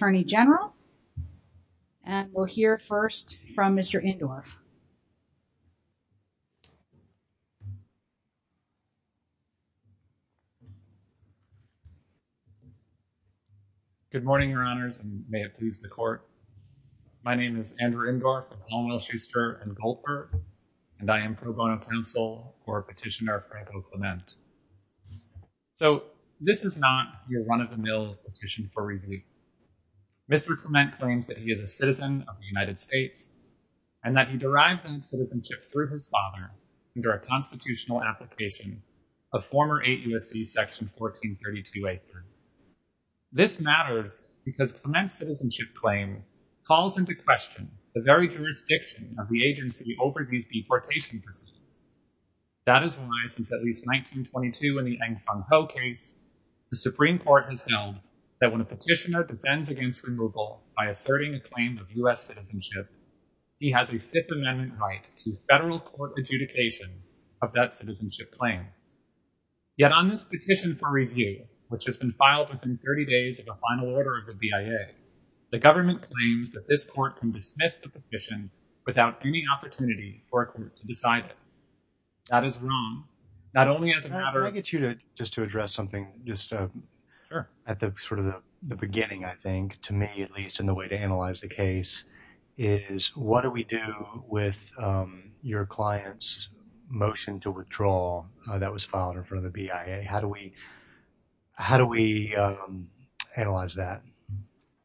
and we'll hear first from Mr. Indorff. Good morning, Your Honors, and may it please the Court. My name is Andrew Indorff with Longwell, Schuster & Goldberg, and I am pro bono counsel for Petitioner Provost Clement. So, this is not your run-of-the-mill petition for rebuke. Mr. Clement claims that he is a citizen of the United States and that he derived that citizenship through his father under a constitutional application of former AUSC Section 1432a3. This matters because Clement's citizenship claim calls into question the very jurisdiction of the agency over these deportation proceedings. That is why, since at least 1922 in the Ng Fung Ho case, the Supreme Court has held that when a petitioner defends against removal by asserting a claim of U.S. citizenship, he has a Fifth Amendment right to federal court adjudication of that citizenship claim. Yet on this petition for review, which has been filed within 30 days of the final order of the BIA, the government claims that this Court can dismiss the petition without any That is wrong. Not only as a matter of- Can I get you to, just to address something, just at the sort of the beginning, I think, to me at least, in the way to analyze the case, is what do we do with your client's motion to withdraw that was filed in front of the BIA? How do we, how do we analyze that?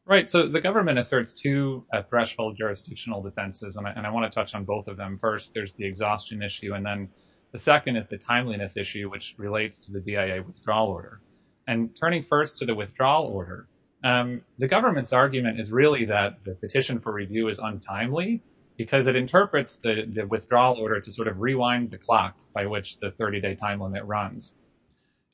Right, so the government asserts two threshold jurisdictional defenses, and I want to touch on both of them. First, there's the exhaustion issue, and then the second is the timeliness issue, which relates to the BIA withdrawal order. And turning first to the withdrawal order, the government's argument is really that the petition for review is untimely, because it interprets the withdrawal order to sort of rewind the clock by which the 30-day time limit runs.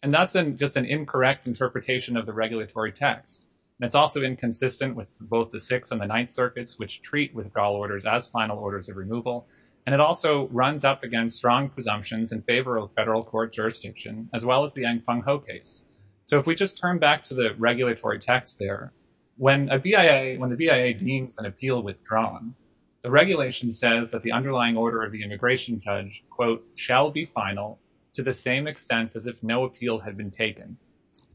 And that's just an incorrect interpretation of the regulatory text, and it's also inconsistent with both the Sixth and the Ninth Circuits, which treat withdrawal orders as final orders of removal. And it also runs up against strong presumptions in favor of federal court jurisdiction, as well as the Ng Fung Ho case. So if we just turn back to the regulatory text there, when a BIA, when the BIA deems an appeal withdrawn, the regulation says that the underlying order of the immigration judge, quote, shall be final, to the same extent as if no appeal had been taken.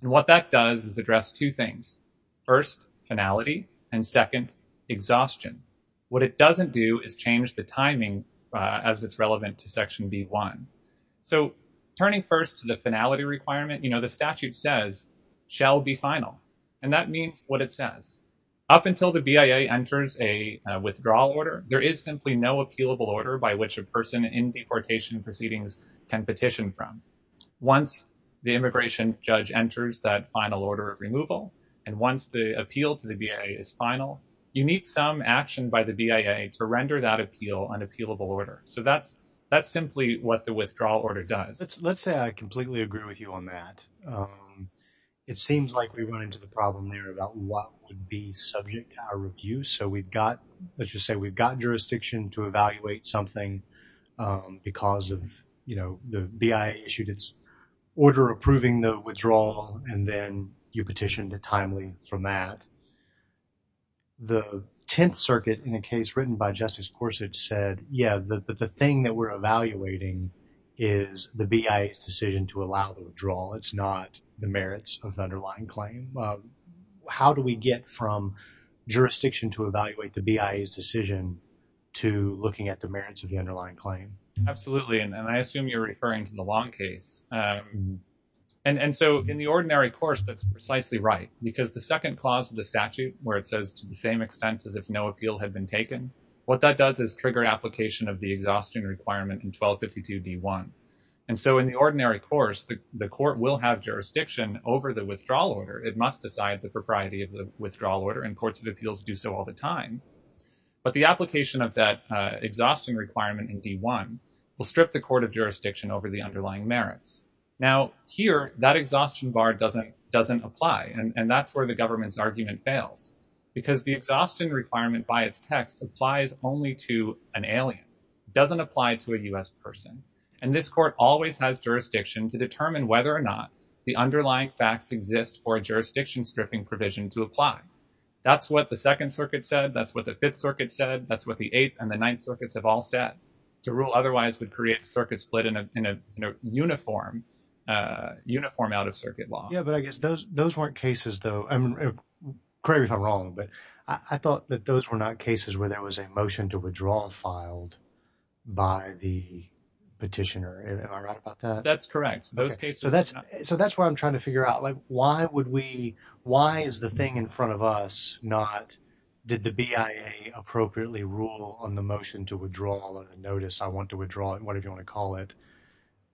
And what that does is address two things, first, finality, and second, exhaustion. What it doesn't do is change the timing as it's relevant to Section B-1. So turning first to the finality requirement, you know, the statute says, shall be final. And that means what it says. Up until the BIA enters a withdrawal order, there is simply no appealable order by which a person in deportation proceedings can petition from. Once the immigration judge enters that final order of removal, and once the appeal to the action by the BIA to render that appeal an appealable order. So that's, that's simply what the withdrawal order does. Let's say I completely agree with you on that. It seems like we run into the problem there about what would be subject to our review. So we've got, let's just say we've got jurisdiction to evaluate something because of, you know, the BIA issued its order approving the withdrawal, and then you petitioned it timely from that. But the Tenth Circuit in a case written by Justice Gorsuch said, yeah, the thing that we're evaluating is the BIA's decision to allow the withdrawal. It's not the merits of the underlying claim. How do we get from jurisdiction to evaluate the BIA's decision to looking at the merits of the underlying claim? Absolutely. And I assume you're referring to the long case. Yes. And so in the ordinary course, that's precisely right, because the second clause of the statute where it says to the same extent as if no appeal had been taken, what that does is trigger application of the exhaustion requirement in 1252 D1. And so in the ordinary course, the court will have jurisdiction over the withdrawal order. It must decide the propriety of the withdrawal order, and courts of appeals do so all the time. But the application of that exhausting requirement in D1 will strip the court of jurisdiction over the underlying merits. Now here, that exhaustion bar doesn't apply. And that's where the government's argument fails, because the exhaustion requirement by its text applies only to an alien, doesn't apply to a U.S. person. And this court always has jurisdiction to determine whether or not the underlying facts exist for a jurisdiction stripping provision to apply. That's what the Second Circuit said. That's what the Fifth Circuit said. That's what the Eighth and the Ninth Circuits have all said. The rule otherwise would create circuit split in a uniform out-of-circuit law. Yeah, but I guess those weren't cases, though, correct me if I'm wrong, but I thought that those were not cases where there was a motion to withdraw filed by the petitioner. Am I right about that? That's correct. Those cases are not. So that's what I'm trying to figure out. Like, why is the thing in front of us not, did the BIA appropriately rule on the motion to withdraw the notice, I want to withdraw it, whatever you want to call it?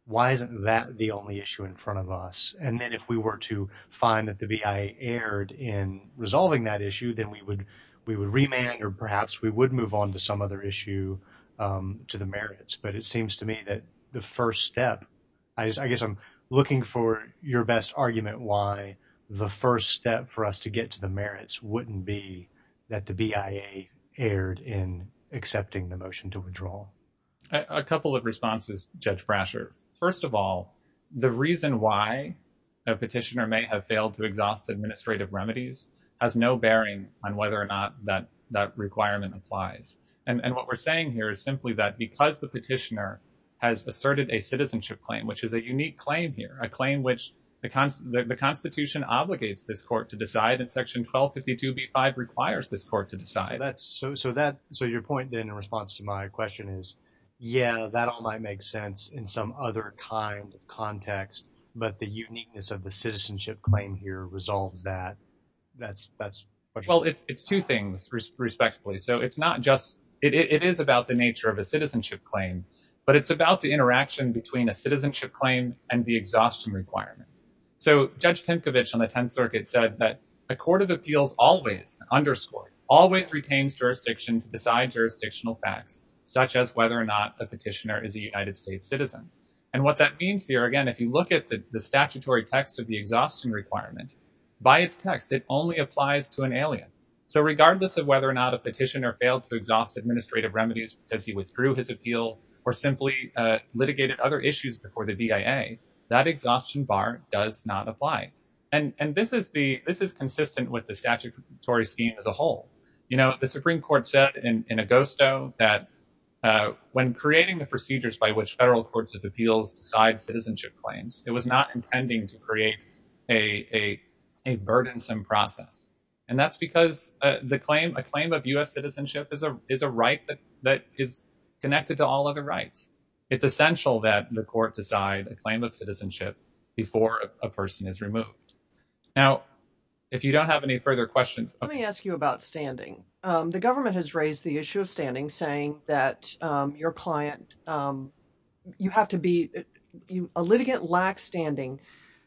Why isn't that the only issue in front of us? And then if we were to find that the BIA erred in resolving that issue, then we would remand or perhaps we would move on to some other issue to the merits. But it seems to me that the first step, I guess I'm looking for your best argument why the first step for us to get to the merits wouldn't be that the BIA erred in accepting the motion to withdraw. A couple of responses, Judge Brasher. First of all, the reason why a petitioner may have failed to exhaust administrative remedies has no bearing on whether or not that requirement applies. And what we're saying here is simply that because the petitioner has asserted a citizenship claim, which is a unique claim here, a claim which the Constitution obligates this court to decide and Section 1252B5 requires this court to decide. So your point, then, in response to my question is, yeah, that all might make sense in some other kind of context, but the uniqueness of the citizenship claim here resolves that. Well, it's two things, respectfully. So it's not just, it is about the nature of a citizenship claim, but it's about the interaction between a citizenship claim and the exhaustion requirement. So Judge Timkovich on the Tenth Circuit said that a court of appeals always, underscore, always retains jurisdiction to decide jurisdictional facts, such as whether or not a petitioner is a United States citizen. And what that means here, again, if you look at the statutory text of the exhaustion requirement, by its text, it only applies to an alien. So regardless of whether or not a petitioner failed to exhaust administrative remedies because he withdrew his appeal or simply litigated other issues before the BIA, that exhaustion bar does not apply. And this is consistent with the statutory scheme as a whole. The Supreme Court said in Augusto that when creating the procedures by which federal courts of appeals decide citizenship claims, it was not intending to create a burdensome process. And that's because a claim of U.S. citizenship is a right that is connected to all other rights. It's essential that the court decide a claim of citizenship before a person is removed. Now, if you don't have any further questions. Let me ask you about standing. The government has raised the issue of standing, saying that your client, you have to be, a litigant lacks standing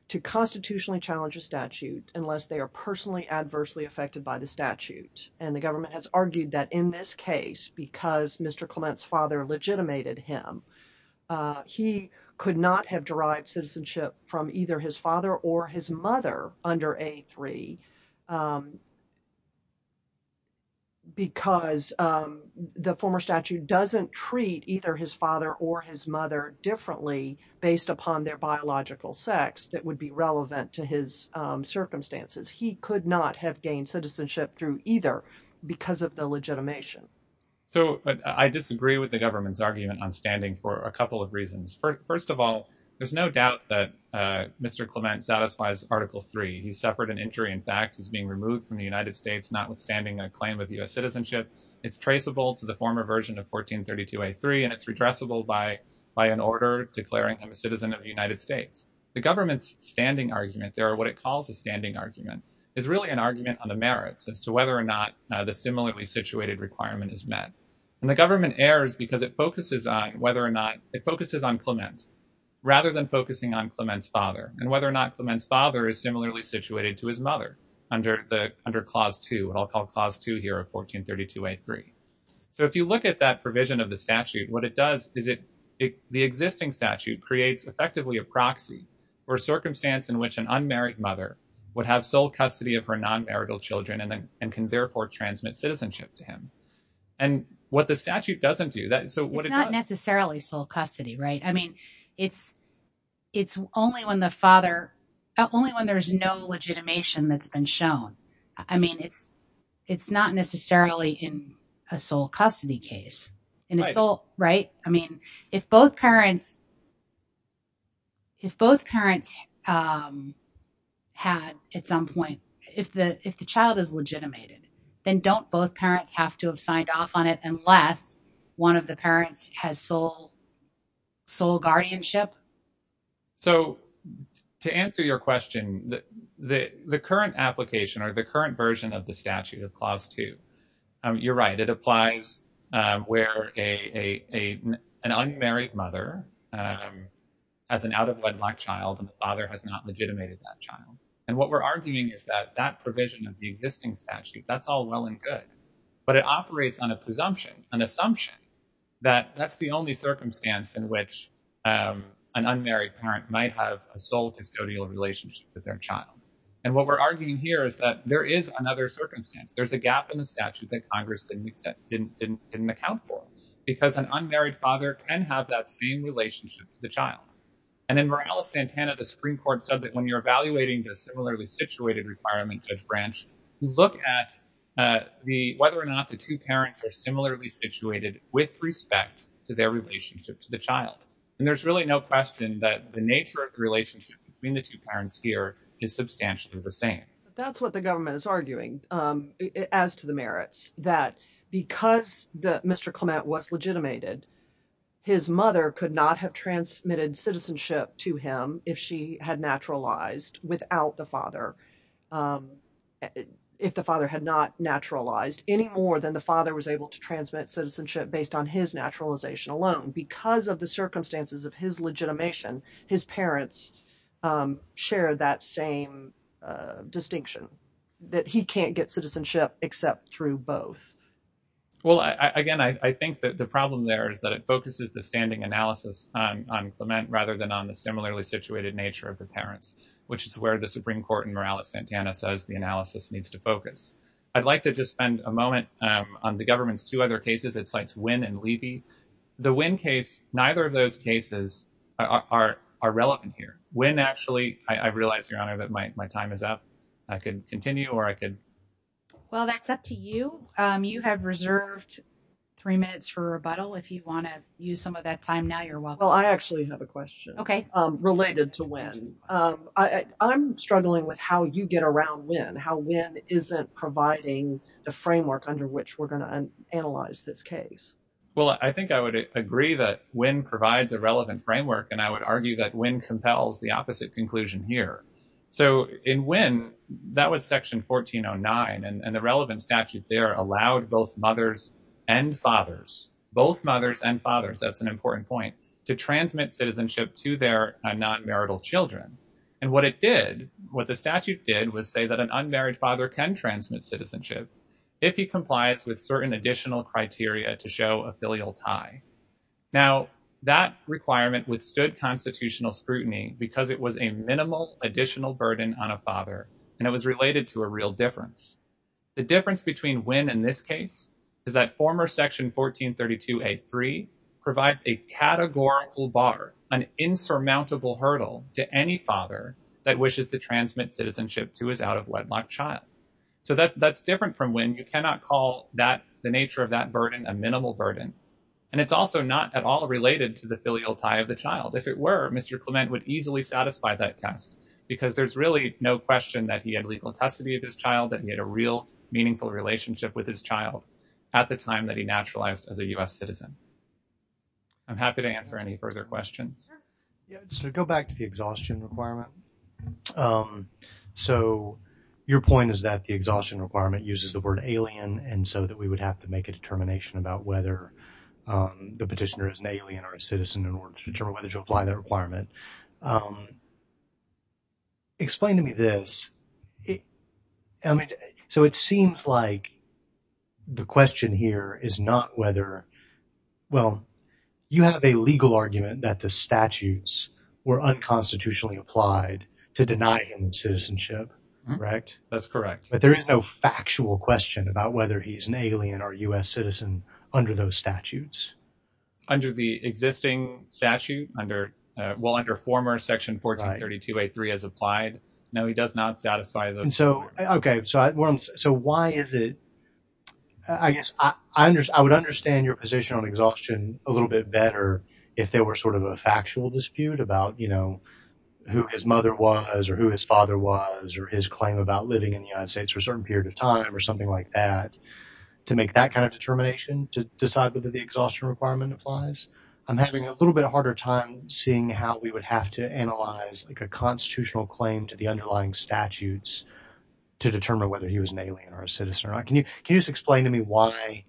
to constitutionally challenge a statute unless they are personally adversely affected by the statute. And the government has argued that in this case, because Mr. Clement's father legitimated him, he could not have derived citizenship from either his father or his mother under A3 because the former statute doesn't treat either his father or his mother differently based upon their biological sex that would be relevant to his circumstances. He could not have gained citizenship through either because of the legitimation. So I disagree with the government's argument on standing for a couple of reasons. First of all, there's no doubt that Mr. Clement satisfies Article 3. He suffered an injury. In fact, he's being removed from the United States, notwithstanding a claim of U.S. citizenship. It's traceable to the former version of 1432 A3, and it's redressable by an order declaring him a citizen of the United States. The government's standing argument, or what it calls a standing argument, is really an argument on the merits as to whether or not the similarly situated requirement is met. And the government errs because it focuses on whether or not, it focuses on Clement rather than focusing on Clement's father, and whether or not Clement's father is similarly situated to his mother under Clause 2, what I'll call Clause 2 here of 1432 A3. So if you look at that provision of the statute, what it does is it, the existing statute creates effectively a proxy for a circumstance in which an unmarried mother would have sole custody of her non-marital children, and can therefore transmit citizenship to him. And what the statute doesn't do, so what it does- It's not necessarily sole custody, right? I mean, it's only when the father, only when there's no legitimation that's been shown. I mean, it's not necessarily in a sole custody case, in a sole, right? I mean, if both parents had at some point, if the child is legitimated, then don't both parents have to have signed off on it unless one of the parents has sole guardianship? So to answer your question, the current application or the current version of the statute of Clause 2, you're right, it applies where an unmarried mother has an out-of-wedlock child and the father has not legitimated that child. And what we're arguing is that that provision of the existing statute, that's all well and good, but it operates on a presumption, an assumption that that's the only circumstance in which an unmarried parent might have a sole custodial relationship with their child. And what we're arguing here is that there is another circumstance. There's a gap in the statute that Congress didn't accept, didn't account for, because an unmarried father can have that same relationship to the child. And in Morales-Santana, the Supreme Court said that when you're evaluating the similarly situated requirement, Judge Branch, look at whether or not the two parents are similarly situated with respect to their relationship to the child. And there's really no question that the nature of the relationship between the two parents here is substantially the same. That's what the government is arguing as to the merits, that because Mr. Clement was legitimated, his mother could not have transmitted citizenship to him if she had naturalized without the father, if the father had not naturalized any more than the father was able to transmit citizenship based on his naturalization alone. And because of the circumstances of his legitimation, his parents share that same distinction, that he can't get citizenship except through both. Well, again, I think that the problem there is that it focuses the standing analysis on Clement rather than on the similarly situated nature of the parents, which is where the Supreme Court in Morales-Santana says the analysis needs to focus. I'd like to just spend a moment on the government's two other cases. It cites Wynne and Levy. The Wynne case, neither of those cases are relevant here. Wynne, actually, I realize, Your Honor, that my time is up. I could continue or I could... Well, that's up to you. You have reserved three minutes for rebuttal. If you want to use some of that time now, you're welcome. Well, I actually have a question. Okay. Related to Wynne. I'm struggling with how you get around Wynne, how Wynne isn't providing the framework under which we're going to analyze this case. Well, I think I would agree that Wynne provides a relevant framework, and I would argue that Wynne compels the opposite conclusion here. So in Wynne, that was Section 1409, and the relevant statute there allowed both mothers and fathers, both mothers and fathers, that's an important point, to transmit citizenship to their non-marital children. And what it did, what the statute did was say that an unmarried father can transmit citizenship if he complies with certain additional criteria to show a filial tie. Now, that requirement withstood constitutional scrutiny because it was a minimal additional burden on a father, and it was related to a real difference. The difference between Wynne and this case is that former Section 1432A3 provides a categorical bar, an insurmountable hurdle to any father that wishes to transmit citizenship to his out-of-wedlock child. So that's different from Wynne. You cannot call the nature of that burden a minimal burden, and it's also not at all related to the filial tie of the child. If it were, Mr. Clement would easily satisfy that test because there's really no question that he had legal custody of his child, that he had a real meaningful relationship with his child at the time that he naturalized as a U.S. citizen. I'm happy to answer any further questions. Yeah, so go back to the exhaustion requirement. So your point is that the exhaustion requirement uses the word alien, and so that we would have to make a determination about whether the petitioner is an alien or a citizen in order to determine whether to apply that requirement. Explain to me this. I mean, so it seems like the question here is not whether, well, you have a legal argument that the statutes were unconstitutionally applied to deny him citizenship, correct? That's correct. But there is no factual question about whether he's an alien or U.S. citizen under those statutes? Under the existing statute, well, under former section 1432a3 as applied. No, he does not satisfy those requirements. Okay, so why is it, I guess I would understand your position on exhaustion a little bit better if there were sort of a factual dispute about, you know, who his mother was or who his father was or his claim about living in the United States for a certain period of time or something like that, to make that kind of determination to decide whether the exhaustion requirement applies? I'm having a little bit harder time seeing how we would have to analyze like a constitutional claim to the underlying statutes to determine whether he was an alien or a citizen or not. Can you just explain to me why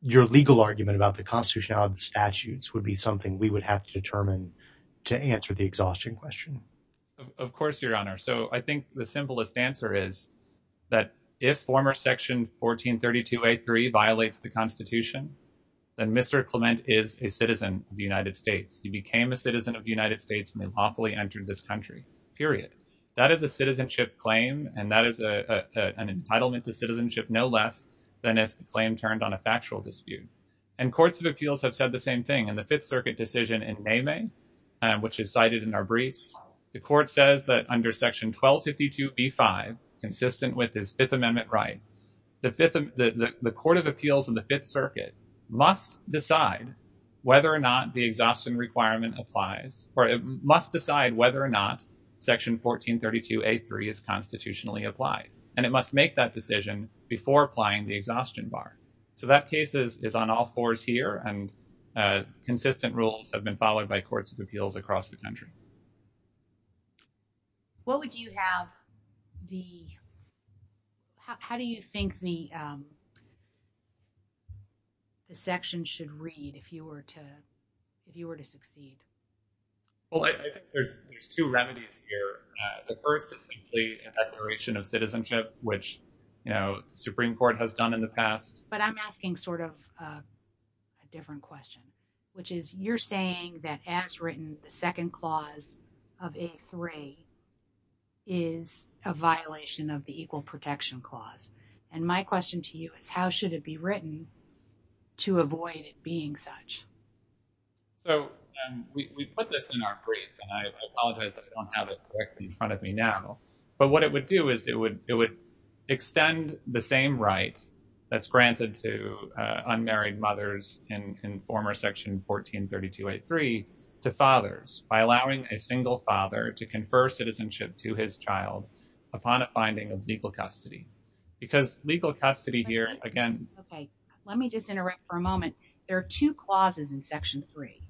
your legal argument about the constitutional statutes would be something we would have to determine to answer the exhaustion question? Of course, Your Honor. So I think the simplest answer is that if former section 1432a3 violates the Constitution, then Mr. Clement is a citizen of the United States. He became a citizen of the United States when he lawfully entered this country, period. That is a citizenship claim, and that is an entitlement to citizenship no less than if the claim turned on a factual dispute. And courts of appeals have said the same thing. In the Fifth Circuit decision in Nehmeh, which is cited in our briefs, the court says that under section 1252b5, consistent with his Fifth Amendment right, the Court of Appeals in the Fifth Circuit must decide whether or not the exhaustion requirement applies or must decide whether or not section 1432a3 is constitutionally applied. And it must make that decision before applying the exhaustion bar. So that case is on all fours here, and consistent rules have been followed by courts of appeals across the country. What would you have the—how do you think the section should read if you were to succeed? Well, I think there's two remedies here. The first is simply a declaration of citizenship, which, you know, the Supreme Court has done in the past. But I'm asking sort of a different question, which is you're saying that as written, the second clause of a3 is a violation of the Equal Protection Clause. And my question to you is, how should it be written to avoid it being such? So we put this in our brief, and I apologize I don't have it directly in front of me now, but what it would do is it would extend the same right that's granted to unmarried mothers in former section 1432a3 to fathers by allowing a single father to confer citizenship to his child upon a finding of legal custody. Because legal custody here, again— Okay, let me just interrupt for a moment. There are two clauses in section three.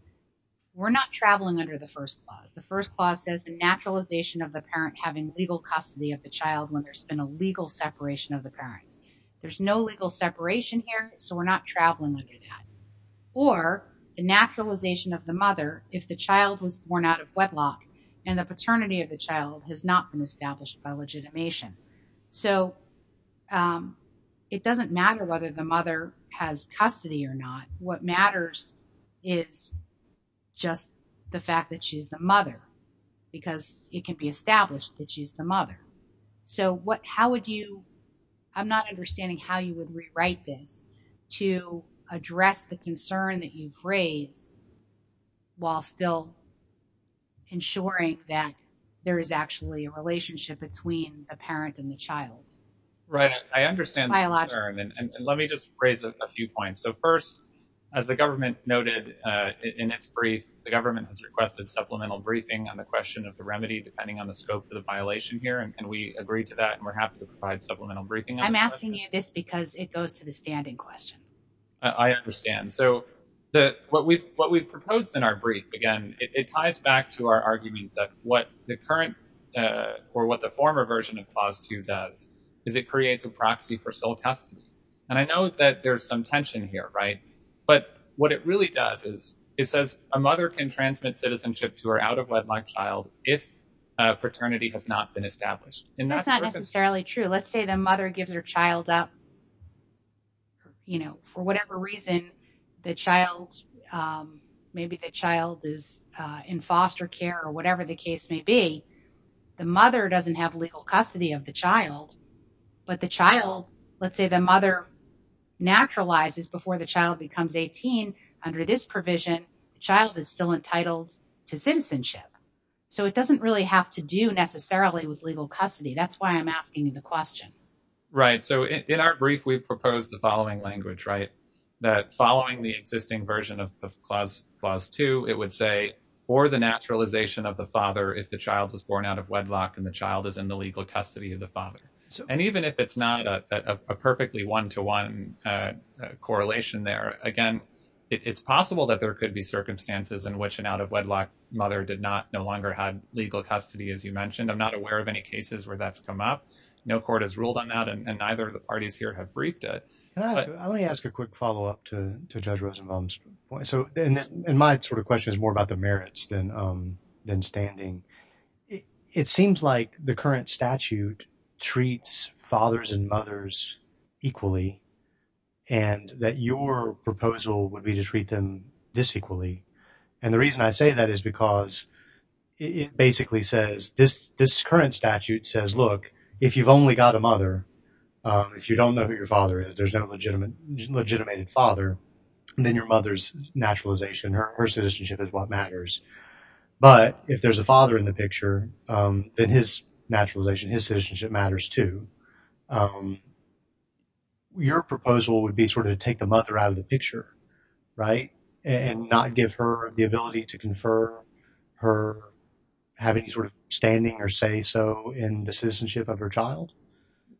We're not traveling under the first clause. The first clause says the naturalization of the parent having legal custody of the child when there's been a legal separation of the parents. There's no legal separation here, so we're not traveling under that. Or the naturalization of the mother if the child was born out of wedlock and the paternity of the child has not been established by legitimation. So it doesn't matter whether the mother has custody or not. What matters is just the fact that she's the mother, because it can be established that she's the mother. So how would you—I'm not understanding how you would rewrite this to address the concern that you've raised while still ensuring that there is actually a relationship between the parent and the child. Right, I understand the concern, and let me just raise a few points. So first, as the government noted in its brief, the government has requested supplemental briefing on the question of the remedy, depending on the scope of the violation here, and we agree to that, and we're happy to provide supplemental briefing. I'm asking you this because it goes to the standing question. I understand. So what we've proposed in our brief, again, it ties back to our argument that what the current or what the former version of Clause 2 does is it creates a proxy for sole custody. And I know that there's some tension here, right? But what it really does is it says a mother can transmit citizenship to her out-of-wedlock child if a paternity has not been established. And that's not necessarily true. Let's say the mother gives her child up, you know, for whatever reason, the child, maybe the child is in foster care or whatever the case may be. The mother doesn't have legal custody of the child, but the child, let's say the mother naturalizes before the child becomes 18. Under this provision, the child is still entitled to citizenship. So it doesn't really have to do necessarily with legal custody. That's why I'm asking you the question. Right. So in our brief, we've proposed the following language, right? That following the existing version of Clause 2, it would say, for the naturalization of the father, if the child was born out of wedlock and the child is in the legal custody of the father. And even if it's not a perfectly one-to-one correlation there, again, it's possible that there could be circumstances in which an out-of-wedlock mother did not, no longer had legal custody, as you mentioned. I'm not aware of any cases where that's come up. No court has ruled on that, and neither of the parties here have briefed it. Let me ask a quick follow-up to Judge Rosenbaum's point. And my sort of question is more about the merits than standing. It seems like the current statute treats fathers and mothers equally, and that your proposal would be to treat them disequally. And the reason I say that is because it basically says, this current statute says, look, if you've only got a mother, if you don't know who your father is, there's no legitimate father, and then your mother's naturalization, her citizenship is what matters. But if there's a father in the picture, then his naturalization, his citizenship matters too. Your proposal would be sort of to take the mother out of the picture, right, and not give her the ability to confer her, have any sort of standing or say-so in the citizenship of her child?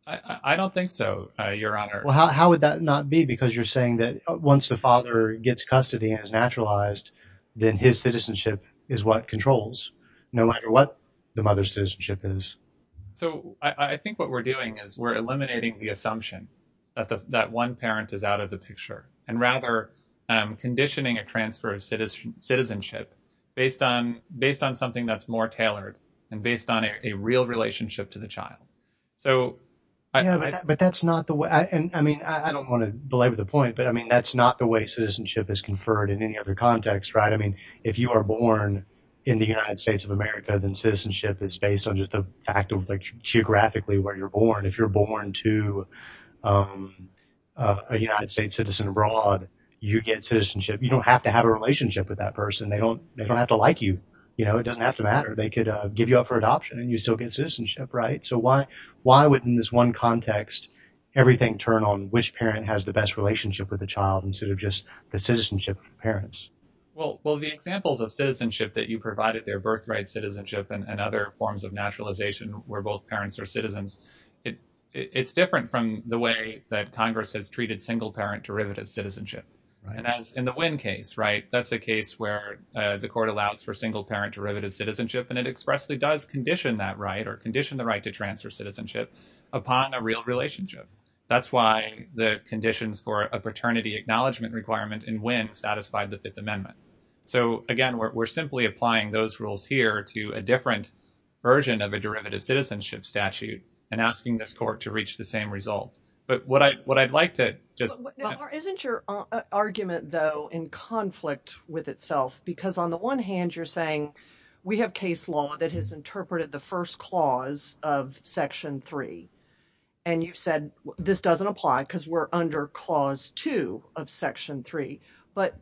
I don't think so, Your Honor. How would that not be? Because you're saying that once the father gets custody and is naturalized, then his citizenship is what controls, no matter what the mother's citizenship is. So I think what we're doing is we're eliminating the assumption that one parent is out of the picture, and rather conditioning a transfer of citizenship based on something that's more tailored and based on a real relationship to the child. Yeah, but that's not the way, and I mean, I don't want to belabor the point, but I mean, that's not the way citizenship is conferred in any other context, right? I mean, if you are born in the United States of America, then citizenship is based on just the fact of geographically where you're born. If you're born to a United States citizen abroad, you get citizenship. You don't have to have a relationship with that person. They don't have to like you. You know, it doesn't have to matter. They could give you up for adoption and you still get citizenship, right? Why would, in this one context, everything turn on which parent has the best relationship with the child instead of just the citizenship of parents? Well, the examples of citizenship that you provided, their birthright citizenship and other forms of naturalization where both parents are citizens, it's different from the way that Congress has treated single-parent derivative citizenship, right? And as in the Wynn case, right, that's a case where the court allows for single-parent derivative citizenship, and it expressly does condition that right or condition the right to transfer citizenship upon a real relationship. That's why the conditions for a paternity acknowledgement requirement in Wynn satisfied the Fifth Amendment. So, again, we're simply applying those rules here to a different version of a derivative citizenship statute and asking this court to reach the same result. But what I'd like to just— But isn't your argument, though, in conflict with itself? Because on the one hand, you're saying we have case law that has interpreted the first clause of Section 3, and you've said this doesn't apply because we're under Clause 2 of Section 3. But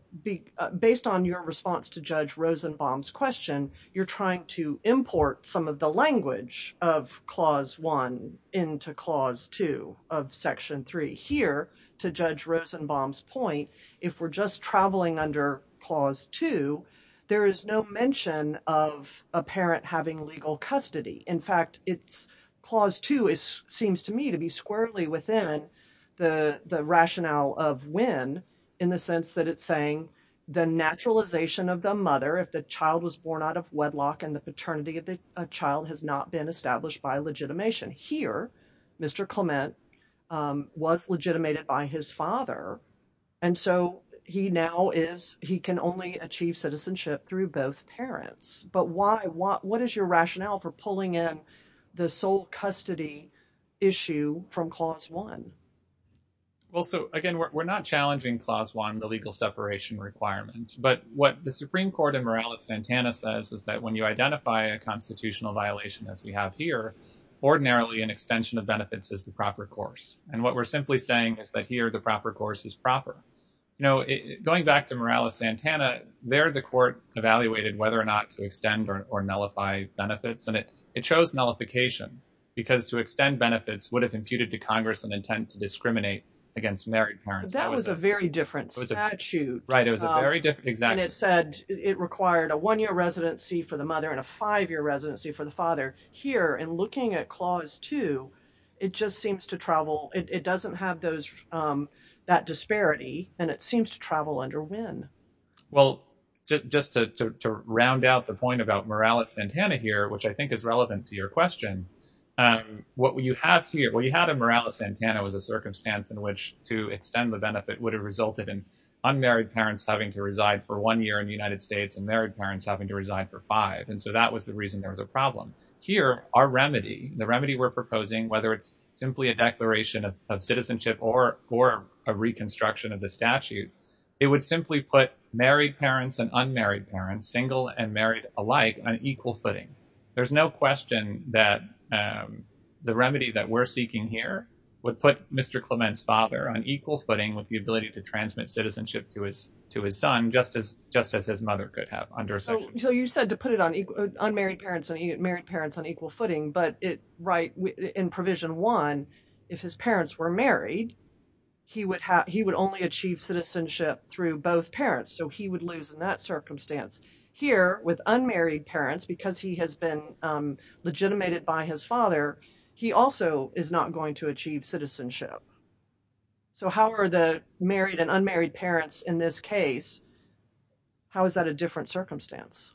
based on your response to Judge Rosenbaum's question, you're trying to import some of the language of Clause 1 into Clause 2 of Section 3. Here, to Judge Rosenbaum's point, if we're just traveling under Clause 2, there is no of a parent having legal custody. In fact, Clause 2 seems to me to be squarely within the rationale of Wynn in the sense that it's saying the naturalization of the mother, if the child was born out of wedlock and the paternity of the child has not been established by legitimation. Here, Mr. Clement was legitimated by his father, and so he now is—he can only achieve citizenship through both parents. But what is your rationale for pulling in the sole custody issue from Clause 1? Well, so again, we're not challenging Clause 1, the legal separation requirement. But what the Supreme Court in Morales-Santana says is that when you identify a constitutional violation as we have here, ordinarily an extension of benefits is the proper course. And what we're simply saying is that here, the proper course is proper. You know, going back to Morales-Santana, there the court evaluated whether or not to extend or nullify benefits, and it chose nullification because to extend benefits would have imputed to Congress an intent to discriminate against married parents. That was a very different statute. Right, it was a very different—exactly. And it said it required a one-year residency for the mother and a five-year residency for the father. Here, in looking at Clause 2, it just seems to travel—it doesn't have those—that disparity, and it seems to travel under when? Well, just to round out the point about Morales-Santana here, which I think is relevant to your question, what you have here—well, you had a Morales-Santana as a circumstance in which to extend the benefit would have resulted in unmarried parents having to reside for one year in the United States and married parents having to reside for five. And so that was the reason there was a problem. Here, our remedy, the remedy we're proposing, whether it's simply a declaration of citizenship or a reconstruction of the statute, it would simply put married parents and unmarried parents, single and married alike, on equal footing. There's no question that the remedy that we're seeking here would put Mr. Clement's father on equal footing with the ability to transmit citizenship to his son just as his mother could have under a second. So you said to put unmarried parents and married parents on equal footing, but in Provision 1, if his parents were married, he would only achieve citizenship through both parents, so he would lose in that circumstance. Here, with unmarried parents, because he has been legitimated by his father, he also is not going to achieve citizenship. So how are the married and unmarried parents in this case—how is that a different circumstance?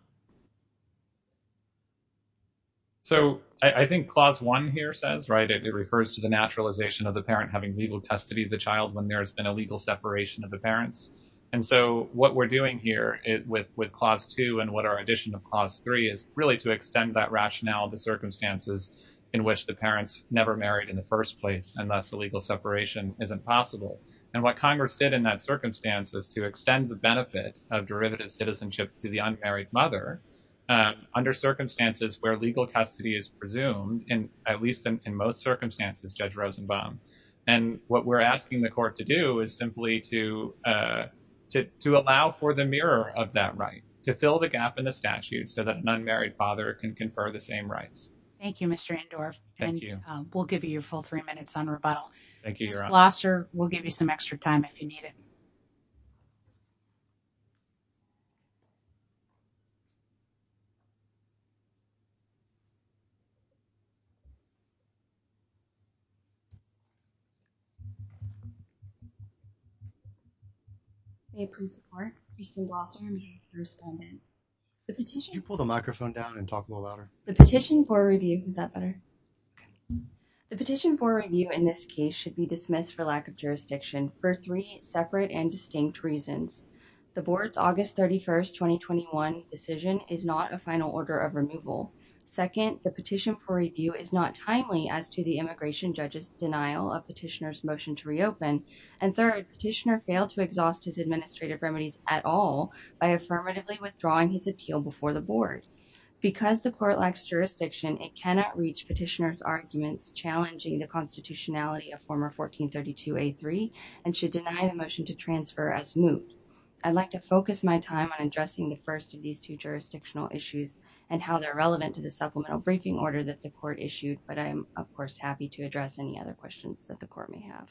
So I think Clause 1 here says, right, it refers to the naturalization of the parent having legal custody of the child when there has been a legal separation of the parents. And so what we're doing here with Clause 2 and what our addition of Clause 3 is really to extend that rationale of the circumstances in which the parents never married in the first place, and thus the legal separation isn't possible. And what Congress did in that circumstance is to extend the benefit of derivative citizenship to the unmarried mother under circumstances where legal custody is presumed, at least in most circumstances, Judge Rosenbaum. And what we're asking the court to do is simply to allow for the mirror of that right, to fill the gap in the statute so that an unmarried father can confer the same rights. Thank you, Mr. Andorff. Thank you. We'll give you your full three minutes on rebuttal. Thank you, Your Honor. Ms. Glasser, we'll give you some extra time if you need it. Okay, please report. Please stand by for your first amendment. Could you pull the microphone down and talk a little louder? The petition for review. Is that better? The petition for review in this case should be dismissed for lack of jurisdiction for three separate and distinct reasons. The board's August 31st, 2021 decision is not a final order of removal. Second, the petition for review is not timely as to the immigration judge's denial of petitioner's motion to reopen. And third, petitioner failed to exhaust his administrative remedies at all by affirmatively withdrawing his appeal before the board. Because the court lacks jurisdiction, it cannot reach petitioner's arguments challenging the I'd like to focus my time on addressing the first of these two jurisdictional issues and how they're relevant to the supplemental briefing order that the court issued. But I'm, of course, happy to address any other questions that the court may have.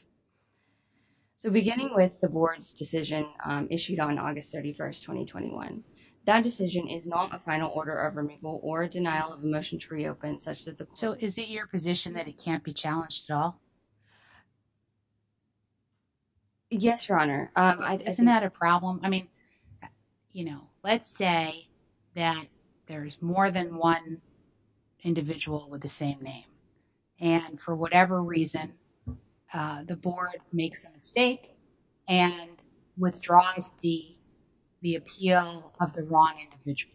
So beginning with the board's decision issued on August 31st, 2021, that decision is not a final order of removal or denial of a motion to reopen such that the... So is it your position that it can't be challenged at all? Yes, Your Honor. Isn't that a problem? I mean, you know, let's say that there is more than one individual with the same name. And for whatever reason, the board makes a mistake and withdraws the appeal of the wrong individual.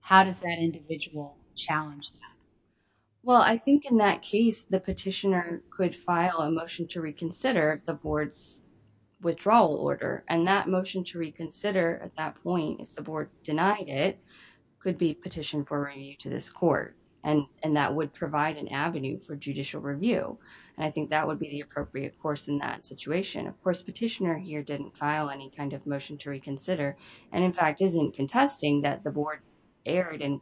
How does that individual challenge that? Well, I think in that case, the petitioner could file a motion to reconsider the board's order. And that motion to reconsider at that point, if the board denied it, could be petitioned for review to this court. And that would provide an avenue for judicial review. And I think that would be the appropriate course in that situation. Of course, petitioner here didn't file any kind of motion to reconsider. And in fact, isn't contesting that the board erred in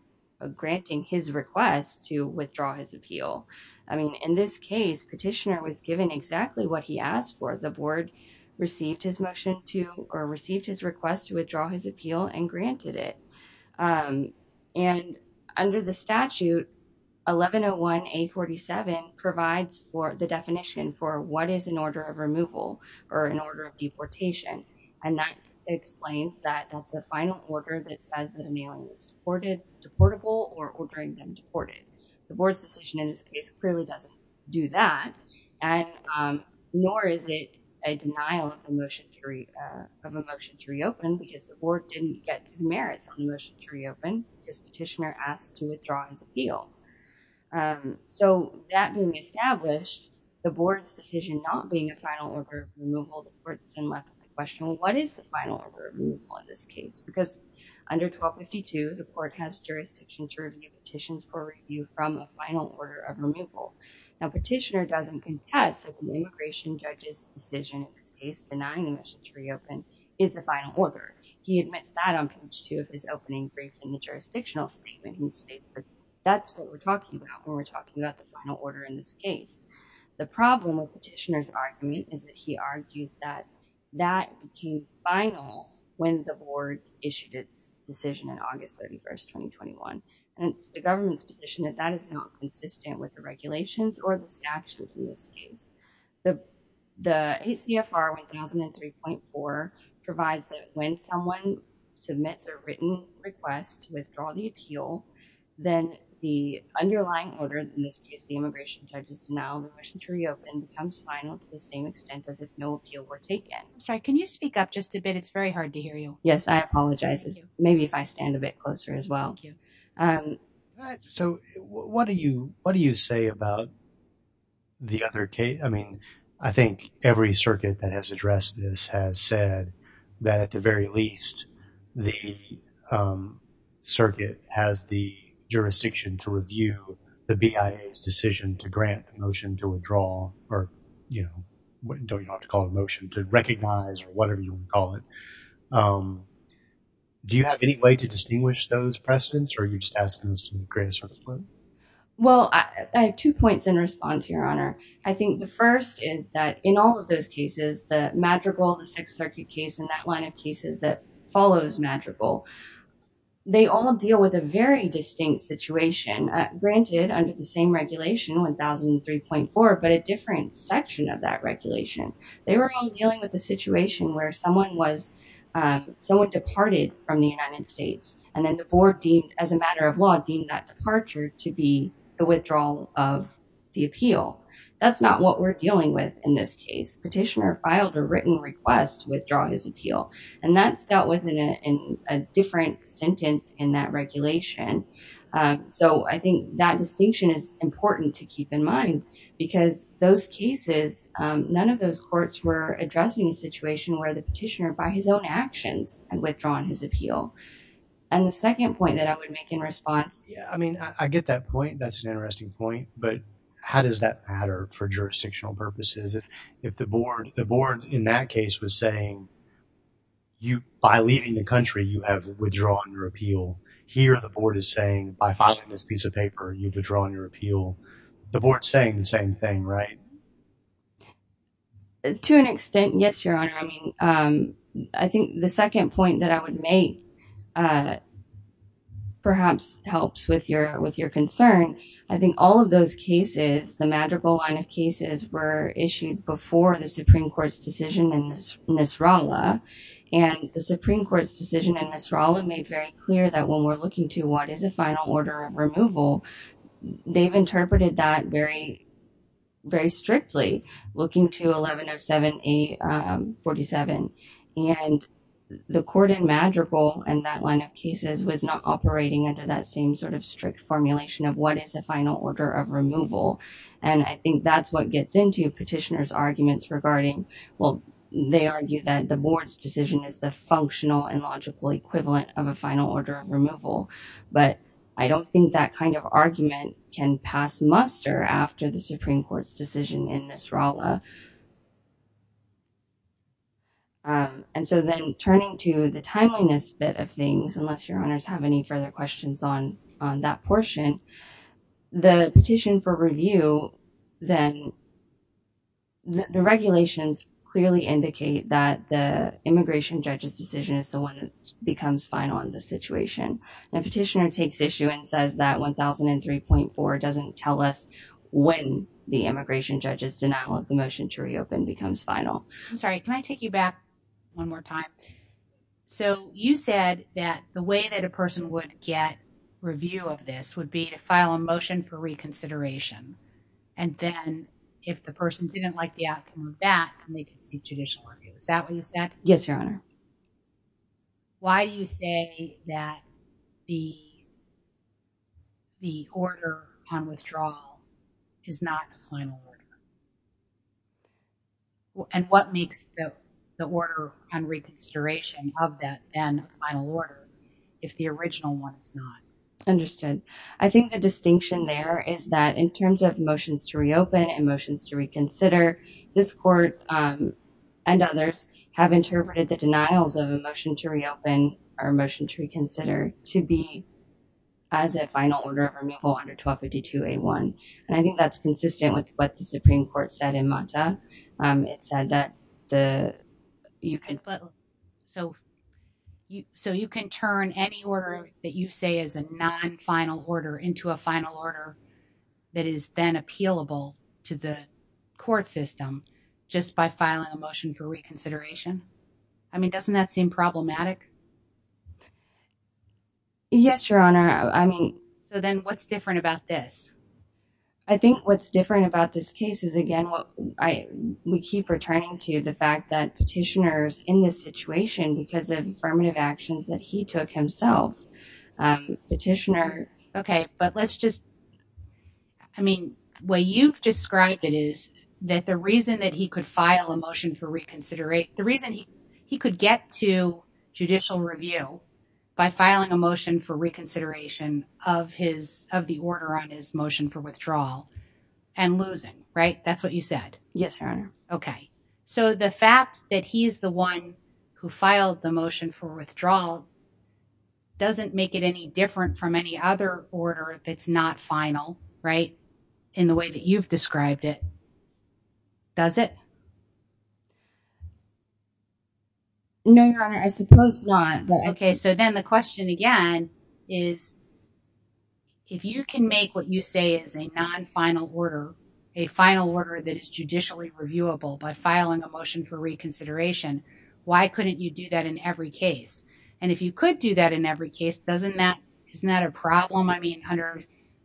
granting his request to withdraw his appeal. I mean, in this case, petitioner was given exactly what he asked for. The board received his motion to or received his request to withdraw his appeal and granted it. And under the statute, 1101A47 provides for the definition for what is an order of removal or an order of deportation. And that explains that that's a final order that says that a mailing is deportable or ordering them deported. The board's decision in this case clearly doesn't do that. And nor is it a denial of a motion to reopen because the board didn't get merits on the motion to reopen because petitioner asked to withdraw his appeal. So that being established, the board's decision not being a final order of removal, the court still left the question, what is the final order of removal in this case? Because under 1252, the court has jurisdiction to review petitions for review from a final order of removal. Now, petitioner doesn't contest that the immigration judge's decision in this case denying the motion to reopen is the final order. He admits that on page two of his opening brief in the jurisdictional statement. He states that that's what we're talking about when we're talking about the final order in this case. The problem with petitioner's argument is that he argues that that became final when the board issued its decision on August 31st, 2021. And it's the government's position that that is not consistent with the regulations or the statute in this case. The ACFR 1003.4 provides that when someone submits a written request to withdraw the appeal, then the underlying order, in this case, the immigration judge's denial of a motion to reopen becomes final to the same extent as if no appeal were taken. I'm sorry, can you speak up just a bit? It's very hard to hear you. Yes, I apologize. Maybe if I stand a bit closer as well. All right. So what do you say about the other case? I mean, I think every circuit that has addressed this has said that at the very least, the circuit has the jurisdiction to review the BIA's decision to grant the motion to withdraw or, you know, you don't have to call it a motion, to recognize or whatever you want to call it. Do you have any way to distinguish those precedents? Or are you just asking this to create a sort of clue? Well, I have two points in response, Your Honor. I think the first is that in all of those cases, the Madrigal, the Sixth Circuit case and that line of cases that follows Madrigal, they all deal with a very distinct situation. Granted, under the same regulation, 1003.4, but a different section of that regulation. They were all dealing with a situation where someone was, someone departed from the United States and then the board deemed, as a matter of law, deemed that departure to be the withdrawal of the appeal. That's not what we're dealing with in this case. Petitioner filed a written request to withdraw his appeal and that's dealt with in a different sentence in that regulation. So I think that distinction is important to keep in mind because those cases, none of those courts were addressing a situation where the petitioner, by his own actions, had withdrawn his appeal. And the second point that I would make in response. Yeah, I mean, I get that point. That's an interesting point. But how does that matter for jurisdictional purposes? If, if the board, the board in that case was saying you, by leaving the country, you have withdrawn your appeal. Here, the board is saying by filing this piece of paper, you've withdrawn your appeal. The board's saying the same thing, right? To an extent, yes, Your Honor. I mean, I think the second point that I would make perhaps helps with your, with your concern. I think all of those cases, the Madrigal line of cases, were issued before the Supreme Court's decision in Nisrallah. And the Supreme Court's decision in Nisrallah made very clear that when we're looking to what is a final order of removal, they've interpreted that very, very strictly. Looking to 1107A47, and the court in Madrigal and that line of cases was not operating under that same sort of strict formulation of what is a final order of removal. And I think that's what gets into petitioners' arguments regarding, well, they argue that the board's decision is the functional and logical equivalent of a final order of removal. But I don't think that kind of argument can pass muster after the Supreme Court's decision in Nisrallah. And so then turning to the timeliness bit of things, unless Your Honors have any further questions on, on that portion, the petition for review, then the regulations clearly indicate that the immigration judge's decision is the one that becomes final in this situation. The petitioner takes issue and says that 1003.4 doesn't tell us when the immigration judge's denial of the motion to reopen becomes final. I'm sorry, can I take you back one more time? So you said that the way that a person would get review of this would be to file a motion for reconsideration. And then if the person didn't like the outcome of that, they can seek judicial review. Is that what you said? Yes, Your Honor. Why do you say that the, the order on withdrawal is not a final order? And what makes the, the order on reconsideration of that then a final order if the original one is not? Understood. I think the distinction there is that in terms of motions to reopen and motions to reconsider, this court and others have interpreted the denials of a motion to reopen or a motion to reconsider to be as a final order of removal under 1252A1. And I think that's consistent with what the Supreme Court said in Manta. It said that the, you can, so, so you can turn any order that you say is a non-final order into a final order that is then appealable to the court system just by filing a motion for reconsideration. I mean, doesn't that seem problematic? Yes, Your Honor. I mean. So then what's different about this? I think what's different about this case is again, what I, we keep returning to the fact that petitioners in this situation because of affirmative actions that he took himself, petitioner. Okay. But let's just, I mean, the way you've described it is that the reason that he could file a motion for reconsideration, the reason he could get to judicial review by filing a motion for reconsideration of his, of the order on his motion for withdrawal and losing, right? That's what you said. Yes, Your Honor. Okay. So the fact that he's the one who filed the motion for withdrawal doesn't make it any different from any other order that's not final, right? In the way that you've described it, does it? No, Your Honor. I suppose not, but. Okay. So then the question again is if you can make what you say is a non-final order, a final order that is judicially reviewable by filing a motion for reconsideration, why couldn't you do that in every case? And if you could do that in every case, doesn't that, isn't that a problem? I mean, under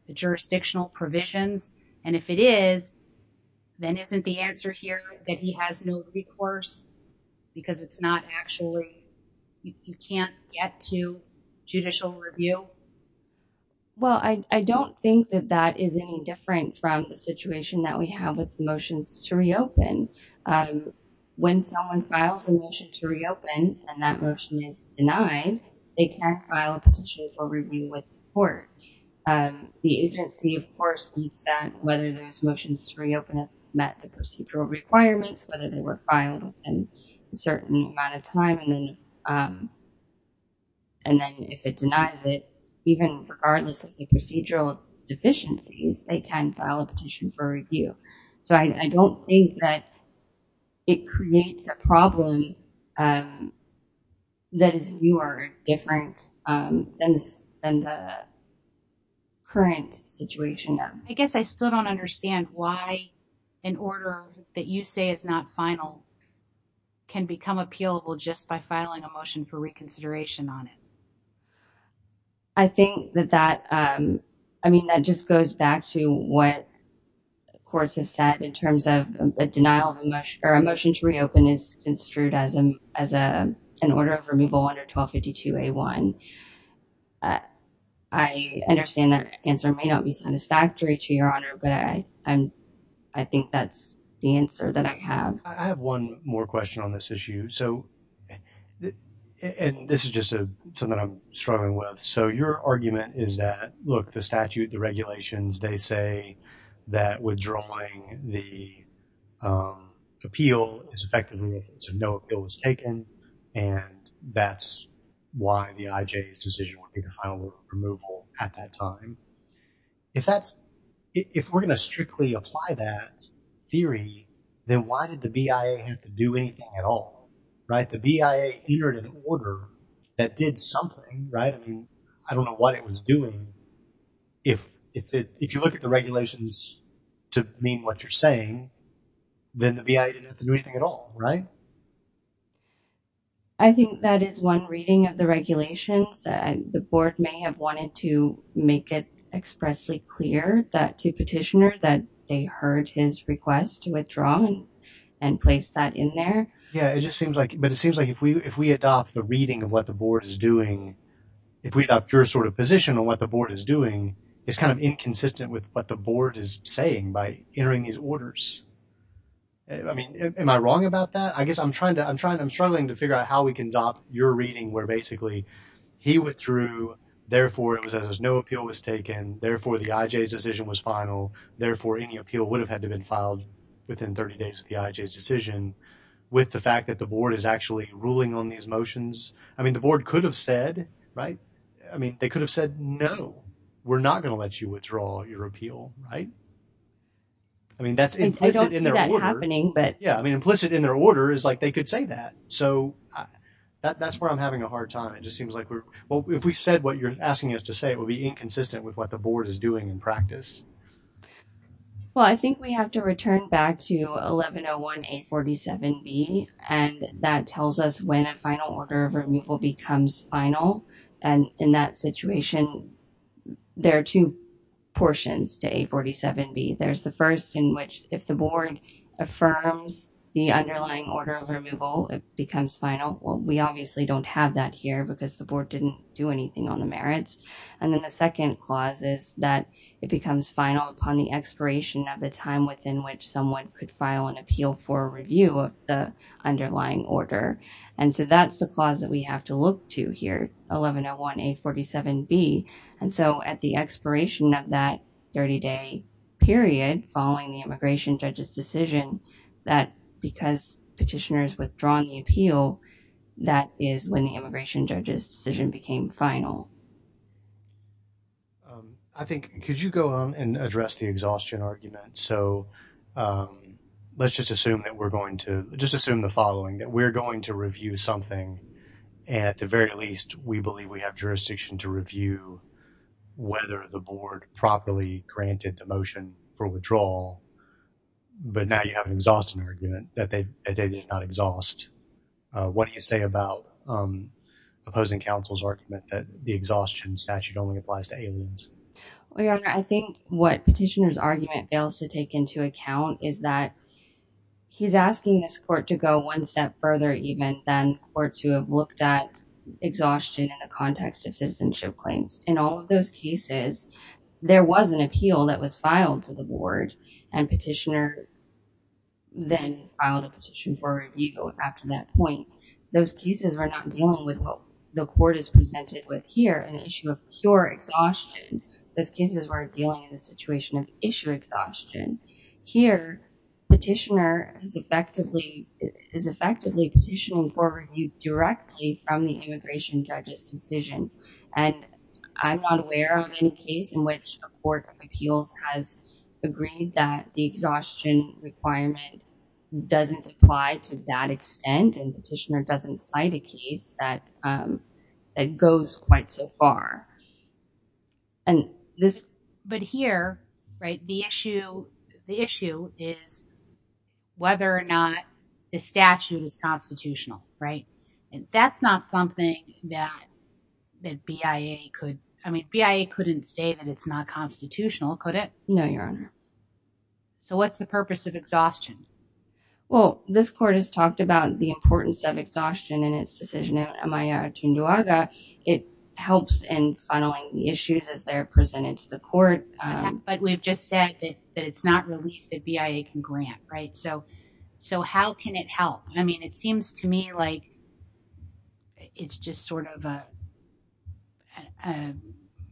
the jurisdictional provisions, and if it is, then isn't the answer here that he has no recourse because it's not actually, you can't get to judicial review? Well, I don't think that that is any different from the situation that we have with motions to reopen. When someone files a motion to reopen and that motion is denied, they can't file a petition for review with the court. The agency, of course, needs to know whether those motions to reopen have met the procedural requirements, whether they were filed within a certain amount of time, and then if it denies it, even regardless of the procedural deficiencies, they can file a petition for review. So I don't think that it creates a problem that is newer or different than the current situation. I guess I still don't understand why an order that you say is not final can become appealable just by filing a motion for reconsideration on it. I think that that, I mean, that just goes back to what courts have said in terms of a denial of a motion to reopen is construed as an order of removal under 1252A1. I understand that answer may not be satisfactory to Your Honor, but I think that's the answer that I have. I have one more question on this issue. So, and this is just something I'm struggling with. So your argument is that, look, the statute, the regulations, they say that withdrawing the appeal is effective, so no appeal was taken, and that's why the IJA's decision would be to file a removal at that time. If that's, if we're going to strictly apply that theory, then why did the BIA have to do anything at all, right? The BIA entered an order that did something, right? I mean, I don't know what it was doing. If you look at the regulations to mean what you're saying, then the BIA didn't have to do anything at all, right? I think that is one reading of the regulations. The board may have wanted to make it expressly clear that to petitioner that they heard his request to withdraw and place that in there. Yeah, it just seems like, but it seems like if we adopt the reading of what the board is doing, if we adopt your sort of position on what the board is doing, it's kind of inconsistent with what the board is saying by entering these orders. I mean, am I wrong about that? I guess I'm trying to, I'm struggling to figure out how we can adopt your reading where basically he withdrew, therefore it was as if no appeal was taken, therefore the within 30 days of the IHA's decision with the fact that the board is actually ruling on these motions. I mean, the board could have said, right? I mean, they could have said, no, we're not going to let you withdraw your appeal, right? I mean, that's implicit in their order. I don't see that happening, but. Yeah, I mean, implicit in their order is like they could say that. So that's where I'm having a hard time. It just seems like we're, well, if we said what you're asking us to say, it would be inconsistent with what the board is doing in practice. Well, I think we have to return back to 1101A47B, and that tells us when a final order of removal becomes final. And in that situation, there are two portions to 847B. There's the first in which if the board affirms the underlying order of removal, it becomes final. Well, we obviously don't have that here because the board didn't do anything on the merits. And then the second clause is that it becomes final upon the expiration of the time within which someone could file an appeal for review of the underlying order. And so that's the clause that we have to look to here, 1101A47B. And so at the expiration of that 30-day period following the immigration judge's decision, that because petitioners withdrawn the appeal, that is when the immigration judge's decision became final. I think, could you go on and address the exhaustion argument? So let's just assume that we're going to, just assume the following, that we're going to review something, and at the very least, we believe we have jurisdiction to review whether the board properly granted the motion for withdrawal. But now you have an exhaustion argument that they did not exhaust. What do you say about opposing counsel's argument that the exhaustion statute only applies to aliens? Well, Your Honor, I think what petitioner's argument fails to take into account is that he's asking this court to go one step further even than courts who have looked at exhaustion in the context of citizenship claims. In all of those cases, there was an appeal that was filed to the board, and petitioner then filed a petition for review after that point. Those cases were not dealing with what the court is presented with here, an issue of pure exhaustion. Those cases were dealing in the situation of issue exhaustion. Here, petitioner is effectively petitioning for review directly from the immigration judge's decision, and I'm not aware of any case in which a court of appeals has agreed that the exhaustion requirement doesn't apply to that extent, and petitioner doesn't cite a case that goes quite so far. But here, the issue is whether or not the statute is constitutional, right? That's not something that BIA could, I mean, BIA couldn't say that it's not constitutional, could it? No, Your Honor. So what's the purpose of exhaustion? Well, this court has talked about the importance of exhaustion in its decision in Amaya Atunduaga. It helps in funneling the issues as they're presented to the court. But we've just said that it's not relief that BIA can grant, right? So how can it help? I mean, it seems to me like it's just sort of a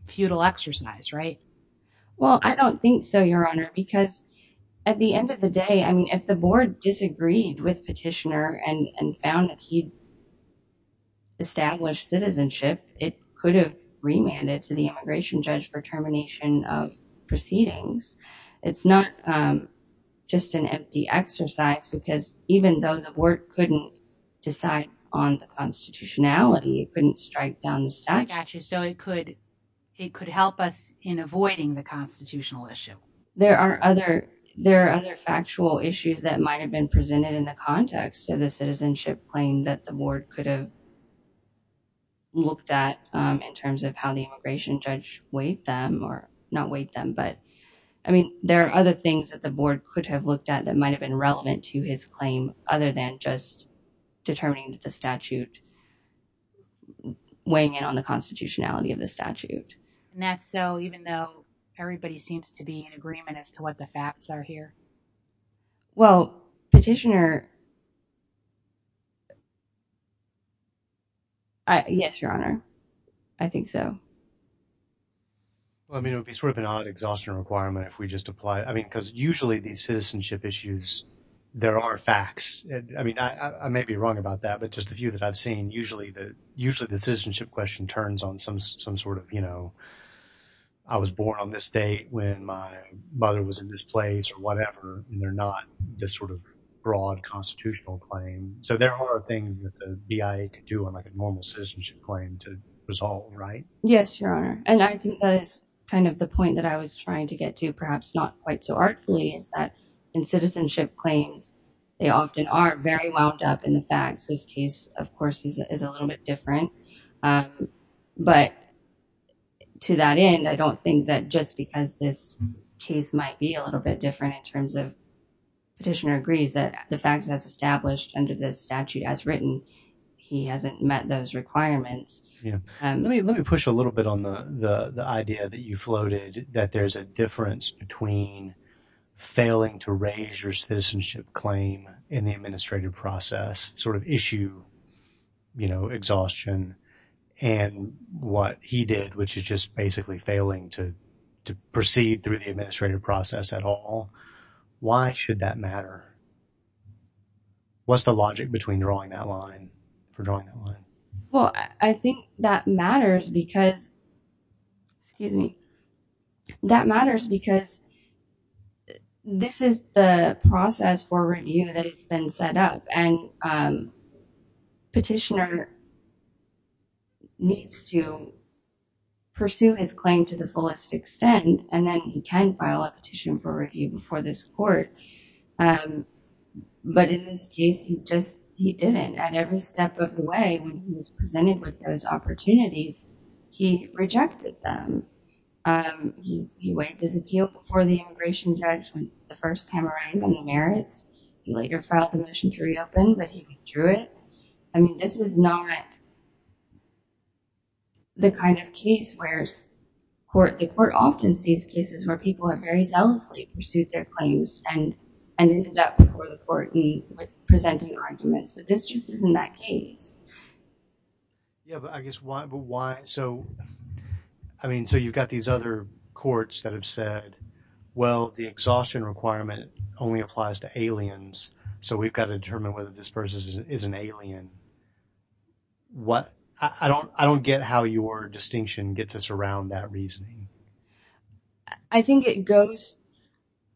futile exercise, right? Well, I don't think so, Your Honor, because at the end of the day, I mean, if the board disagreed with petitioner and found that he'd established citizenship, it could have remanded to the immigration judge for termination of proceedings. It's not just an empty exercise because even though the board couldn't decide on the constitutionality, it couldn't strike down the statute. So it could help us in avoiding the constitutional issue. There are other factual issues that might have been presented in the context of the citizenship claim that the board could have looked at in terms of how the immigration judge weighed them or not weighed them. But I mean, there are other things that the board could have looked at that might have been relevant to his claim other than just determining that the statute weighing in on the constitutionality of the statute. And that's so even though everybody seems to be in agreement as to what the facts are here? Well, petitioner, yes, Your Honor, I think so. Well, I mean, it would be sort of an odd exhaustion requirement if we just apply it. I mean, because usually these citizenship issues, there are facts. I mean, I may be wrong about that, but just a few that I've seen, usually the citizenship question turns on some sort of, you know, I was born on this day when my mother was in this place or whatever, and they're not this sort of broad constitutional claim. So there are things that the BIA could do on like a normal citizenship claim to resolve, right? Yes, Your Honor. And I think that is kind of the point that I was trying to get to, perhaps not quite so artfully, is that in citizenship claims, they often are very wound up in the facts. This case, of course, is a little bit different, but to that end, I don't think that just because this case might be a little bit different in terms of petitioner agrees that the facts as established under the statute as written, he hasn't met those requirements. Yeah. Let me push a little bit on the idea that you floated that there's a difference between failing to raise your citizenship claim in the administrative process, sort of issue, you know, exhaustion, and what he did, which is just basically failing to proceed through the administrative process at all. Why should that matter? What's the logic between drawing that line, for drawing that line? Well, I think that matters because, excuse me, that matters because this is the process for review that has been set up and petitioner needs to pursue his claim to the fullest extent. And then he can file a petition for review before this court. But in this case, he didn't. At every step of the way, when he was presented with those opportunities, he rejected them. He waived his appeal before the immigration judge when the first time around when he merits. He later filed a motion to reopen, but he withdrew it. I mean, this is not the kind of case where the court often sees cases where people have very zealously pursued their claims and ended up before the court. He was presenting arguments. But this just isn't that case. Yeah, but I guess why, so, I mean, so you've got these other courts that have said, well, the exhaustion requirement only applies to aliens. So we've got to determine whether this person is an alien. What I don't, I don't get how your distinction gets us around that reasoning. I think it goes,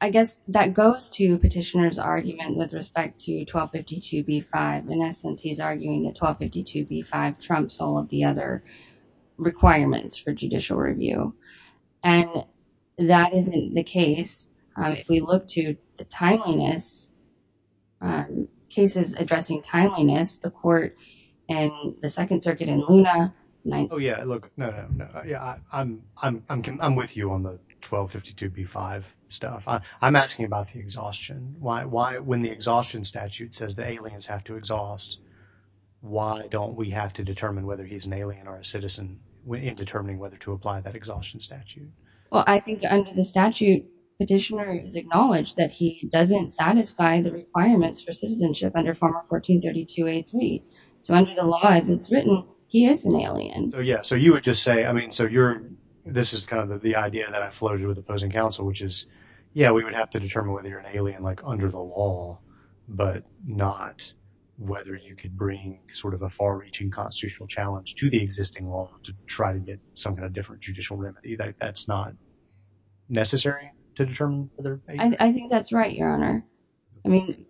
I guess that goes to petitioner's argument with respect to 1252b5. In essence, he's arguing that 1252b5 trumps all of the other requirements for judicial review. And that isn't the case. If we look to the timeliness, cases addressing timeliness, the court and the Second Circuit and Luna, oh, yeah, look, no, no, no. I'm with you on the 1252b5 stuff. I'm asking about the exhaustion. Why, when the exhaustion statute says the aliens have to exhaust, why don't we have to determine whether he's an alien or a citizen in determining whether to apply that exhaustion statute? Well, I think under the statute, petitioner is acknowledged that he doesn't satisfy the requirements for citizenship under former 1432a3. So under the law, as it's written, he is an alien. Yeah. So you would just say, I mean, so you're, this is kind of the idea that I floated with opposing counsel, which is, yeah, we would have to determine whether you're an alien like under the law, but not whether you could bring sort of a far reaching constitutional challenge to the existing law to try to get some kind of different judicial remedy. That's not necessary to determine. I think that's right, Your Honor. I mean,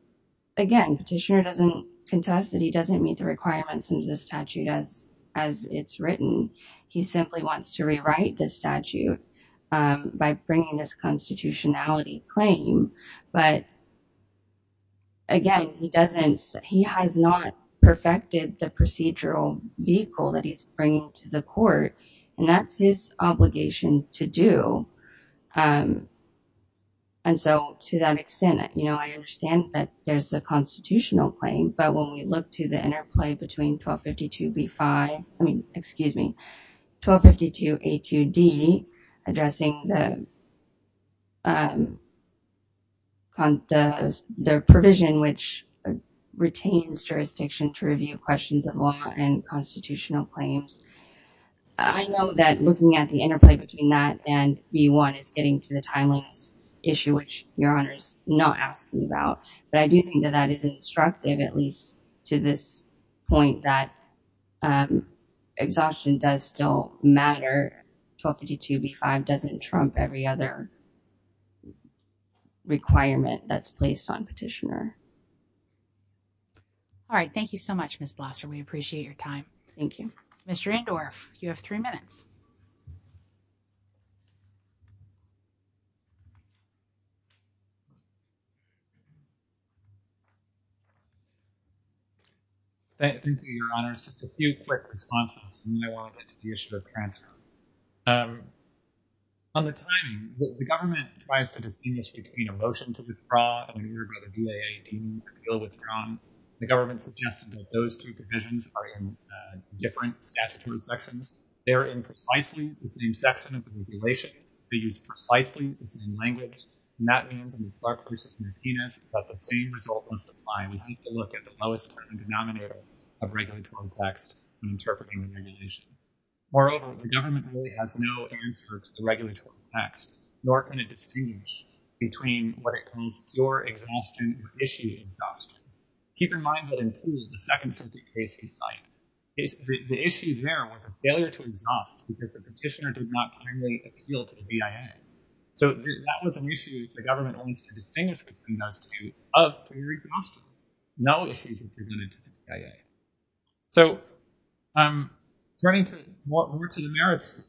again, petitioner doesn't contest that he doesn't meet the requirements under the statute as it's written. He simply wants to rewrite the statute by bringing this constitutionality claim. But again, he doesn't, he has not perfected the procedural vehicle that he's bringing to the court and that's his obligation to do. And so to that extent, you know, I understand that there's a constitutional claim, but when you look to the interplay between 1252B5, I mean, excuse me, 1252A2D addressing the provision, which retains jurisdiction to review questions of law and constitutional claims. I know that looking at the interplay between that and B1 is getting to the timeliness issue, which Your Honor is not asking about, but I do think that that is instructive, at least to this point that exhaustion does still matter. 1252B5 doesn't trump every other requirement that's placed on petitioner. All right. Thank you so much, Ms. Blosser. We appreciate your time. Thank you. Mr. Endorf, you have three minutes. Thank you, Your Honors. Just a few quick responses and then I'll get to the issue of transfer. On the timing, the government decides to distinguish between a motion to withdraw and a move by the BAA deeming the appeal withdrawn. The government suggested that those two provisions are in different statutory sections. They're in precisely the same section of the regulation. They use precisely the same language, and that means in the Clark v. Martinez that the same result must apply. We have to look at the lowest part of the denominator of regulatory text when interpreting the regulation. Moreover, the government really has no answer to the regulatory text. You aren't going to distinguish between what it calls pure exhaustion or issued exhaustion. Keep in mind that in Poole, the second circuit case we cite, the issue there was a failure to exhaust because the petitioner did not timely appeal to the BAA. So that was an issue the government wants to distinguish between those two of pure exhaustion. No issue was presented to the BAA. So turning more to the merits,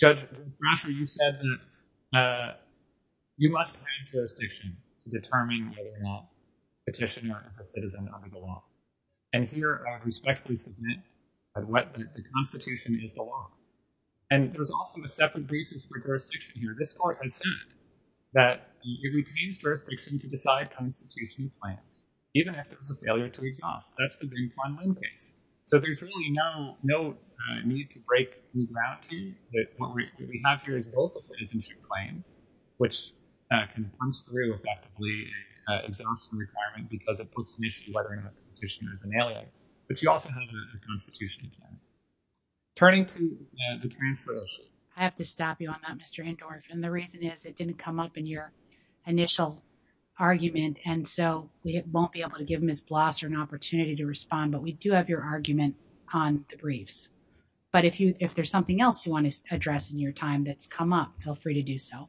Judge Blosser, you said that you must find jurisdiction to determine whether or not the petitioner is a citizen under the law. And here, I respectfully submit that the Constitution is the law. And there's often a separate basis for jurisdiction here. This Court has said that it retains jurisdiction to decide constitutional plans, even if there was a failure to exhaust. That's the Bing Quan Lin case. So there's really no need to break new ground here, that what we have here is both a citizenship claim, which comes through effectively an exhaustion requirement because it puts an issue of whether or not the petitioner is an alien. But you also have a constitutional claim. Turning to the transfer issue. I have to stop you on that, Mr. Andorff. And the reason is it didn't come up in your initial argument. And so we won't be able to give Ms. Blosser an opportunity to respond. But we do have your argument on the briefs. But if there's something else you want to address in your time that's come up, feel free to do so.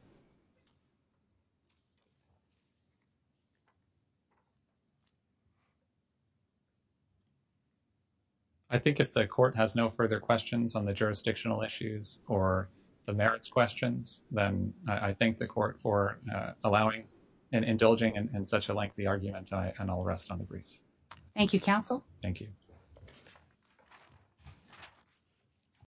I think if the Court has no further questions on the jurisdictional issues or the merits questions, then I thank the Court for allowing and indulging in such a lengthy argument. And I'll rest on the briefs. Thank you, counsel. Thank you.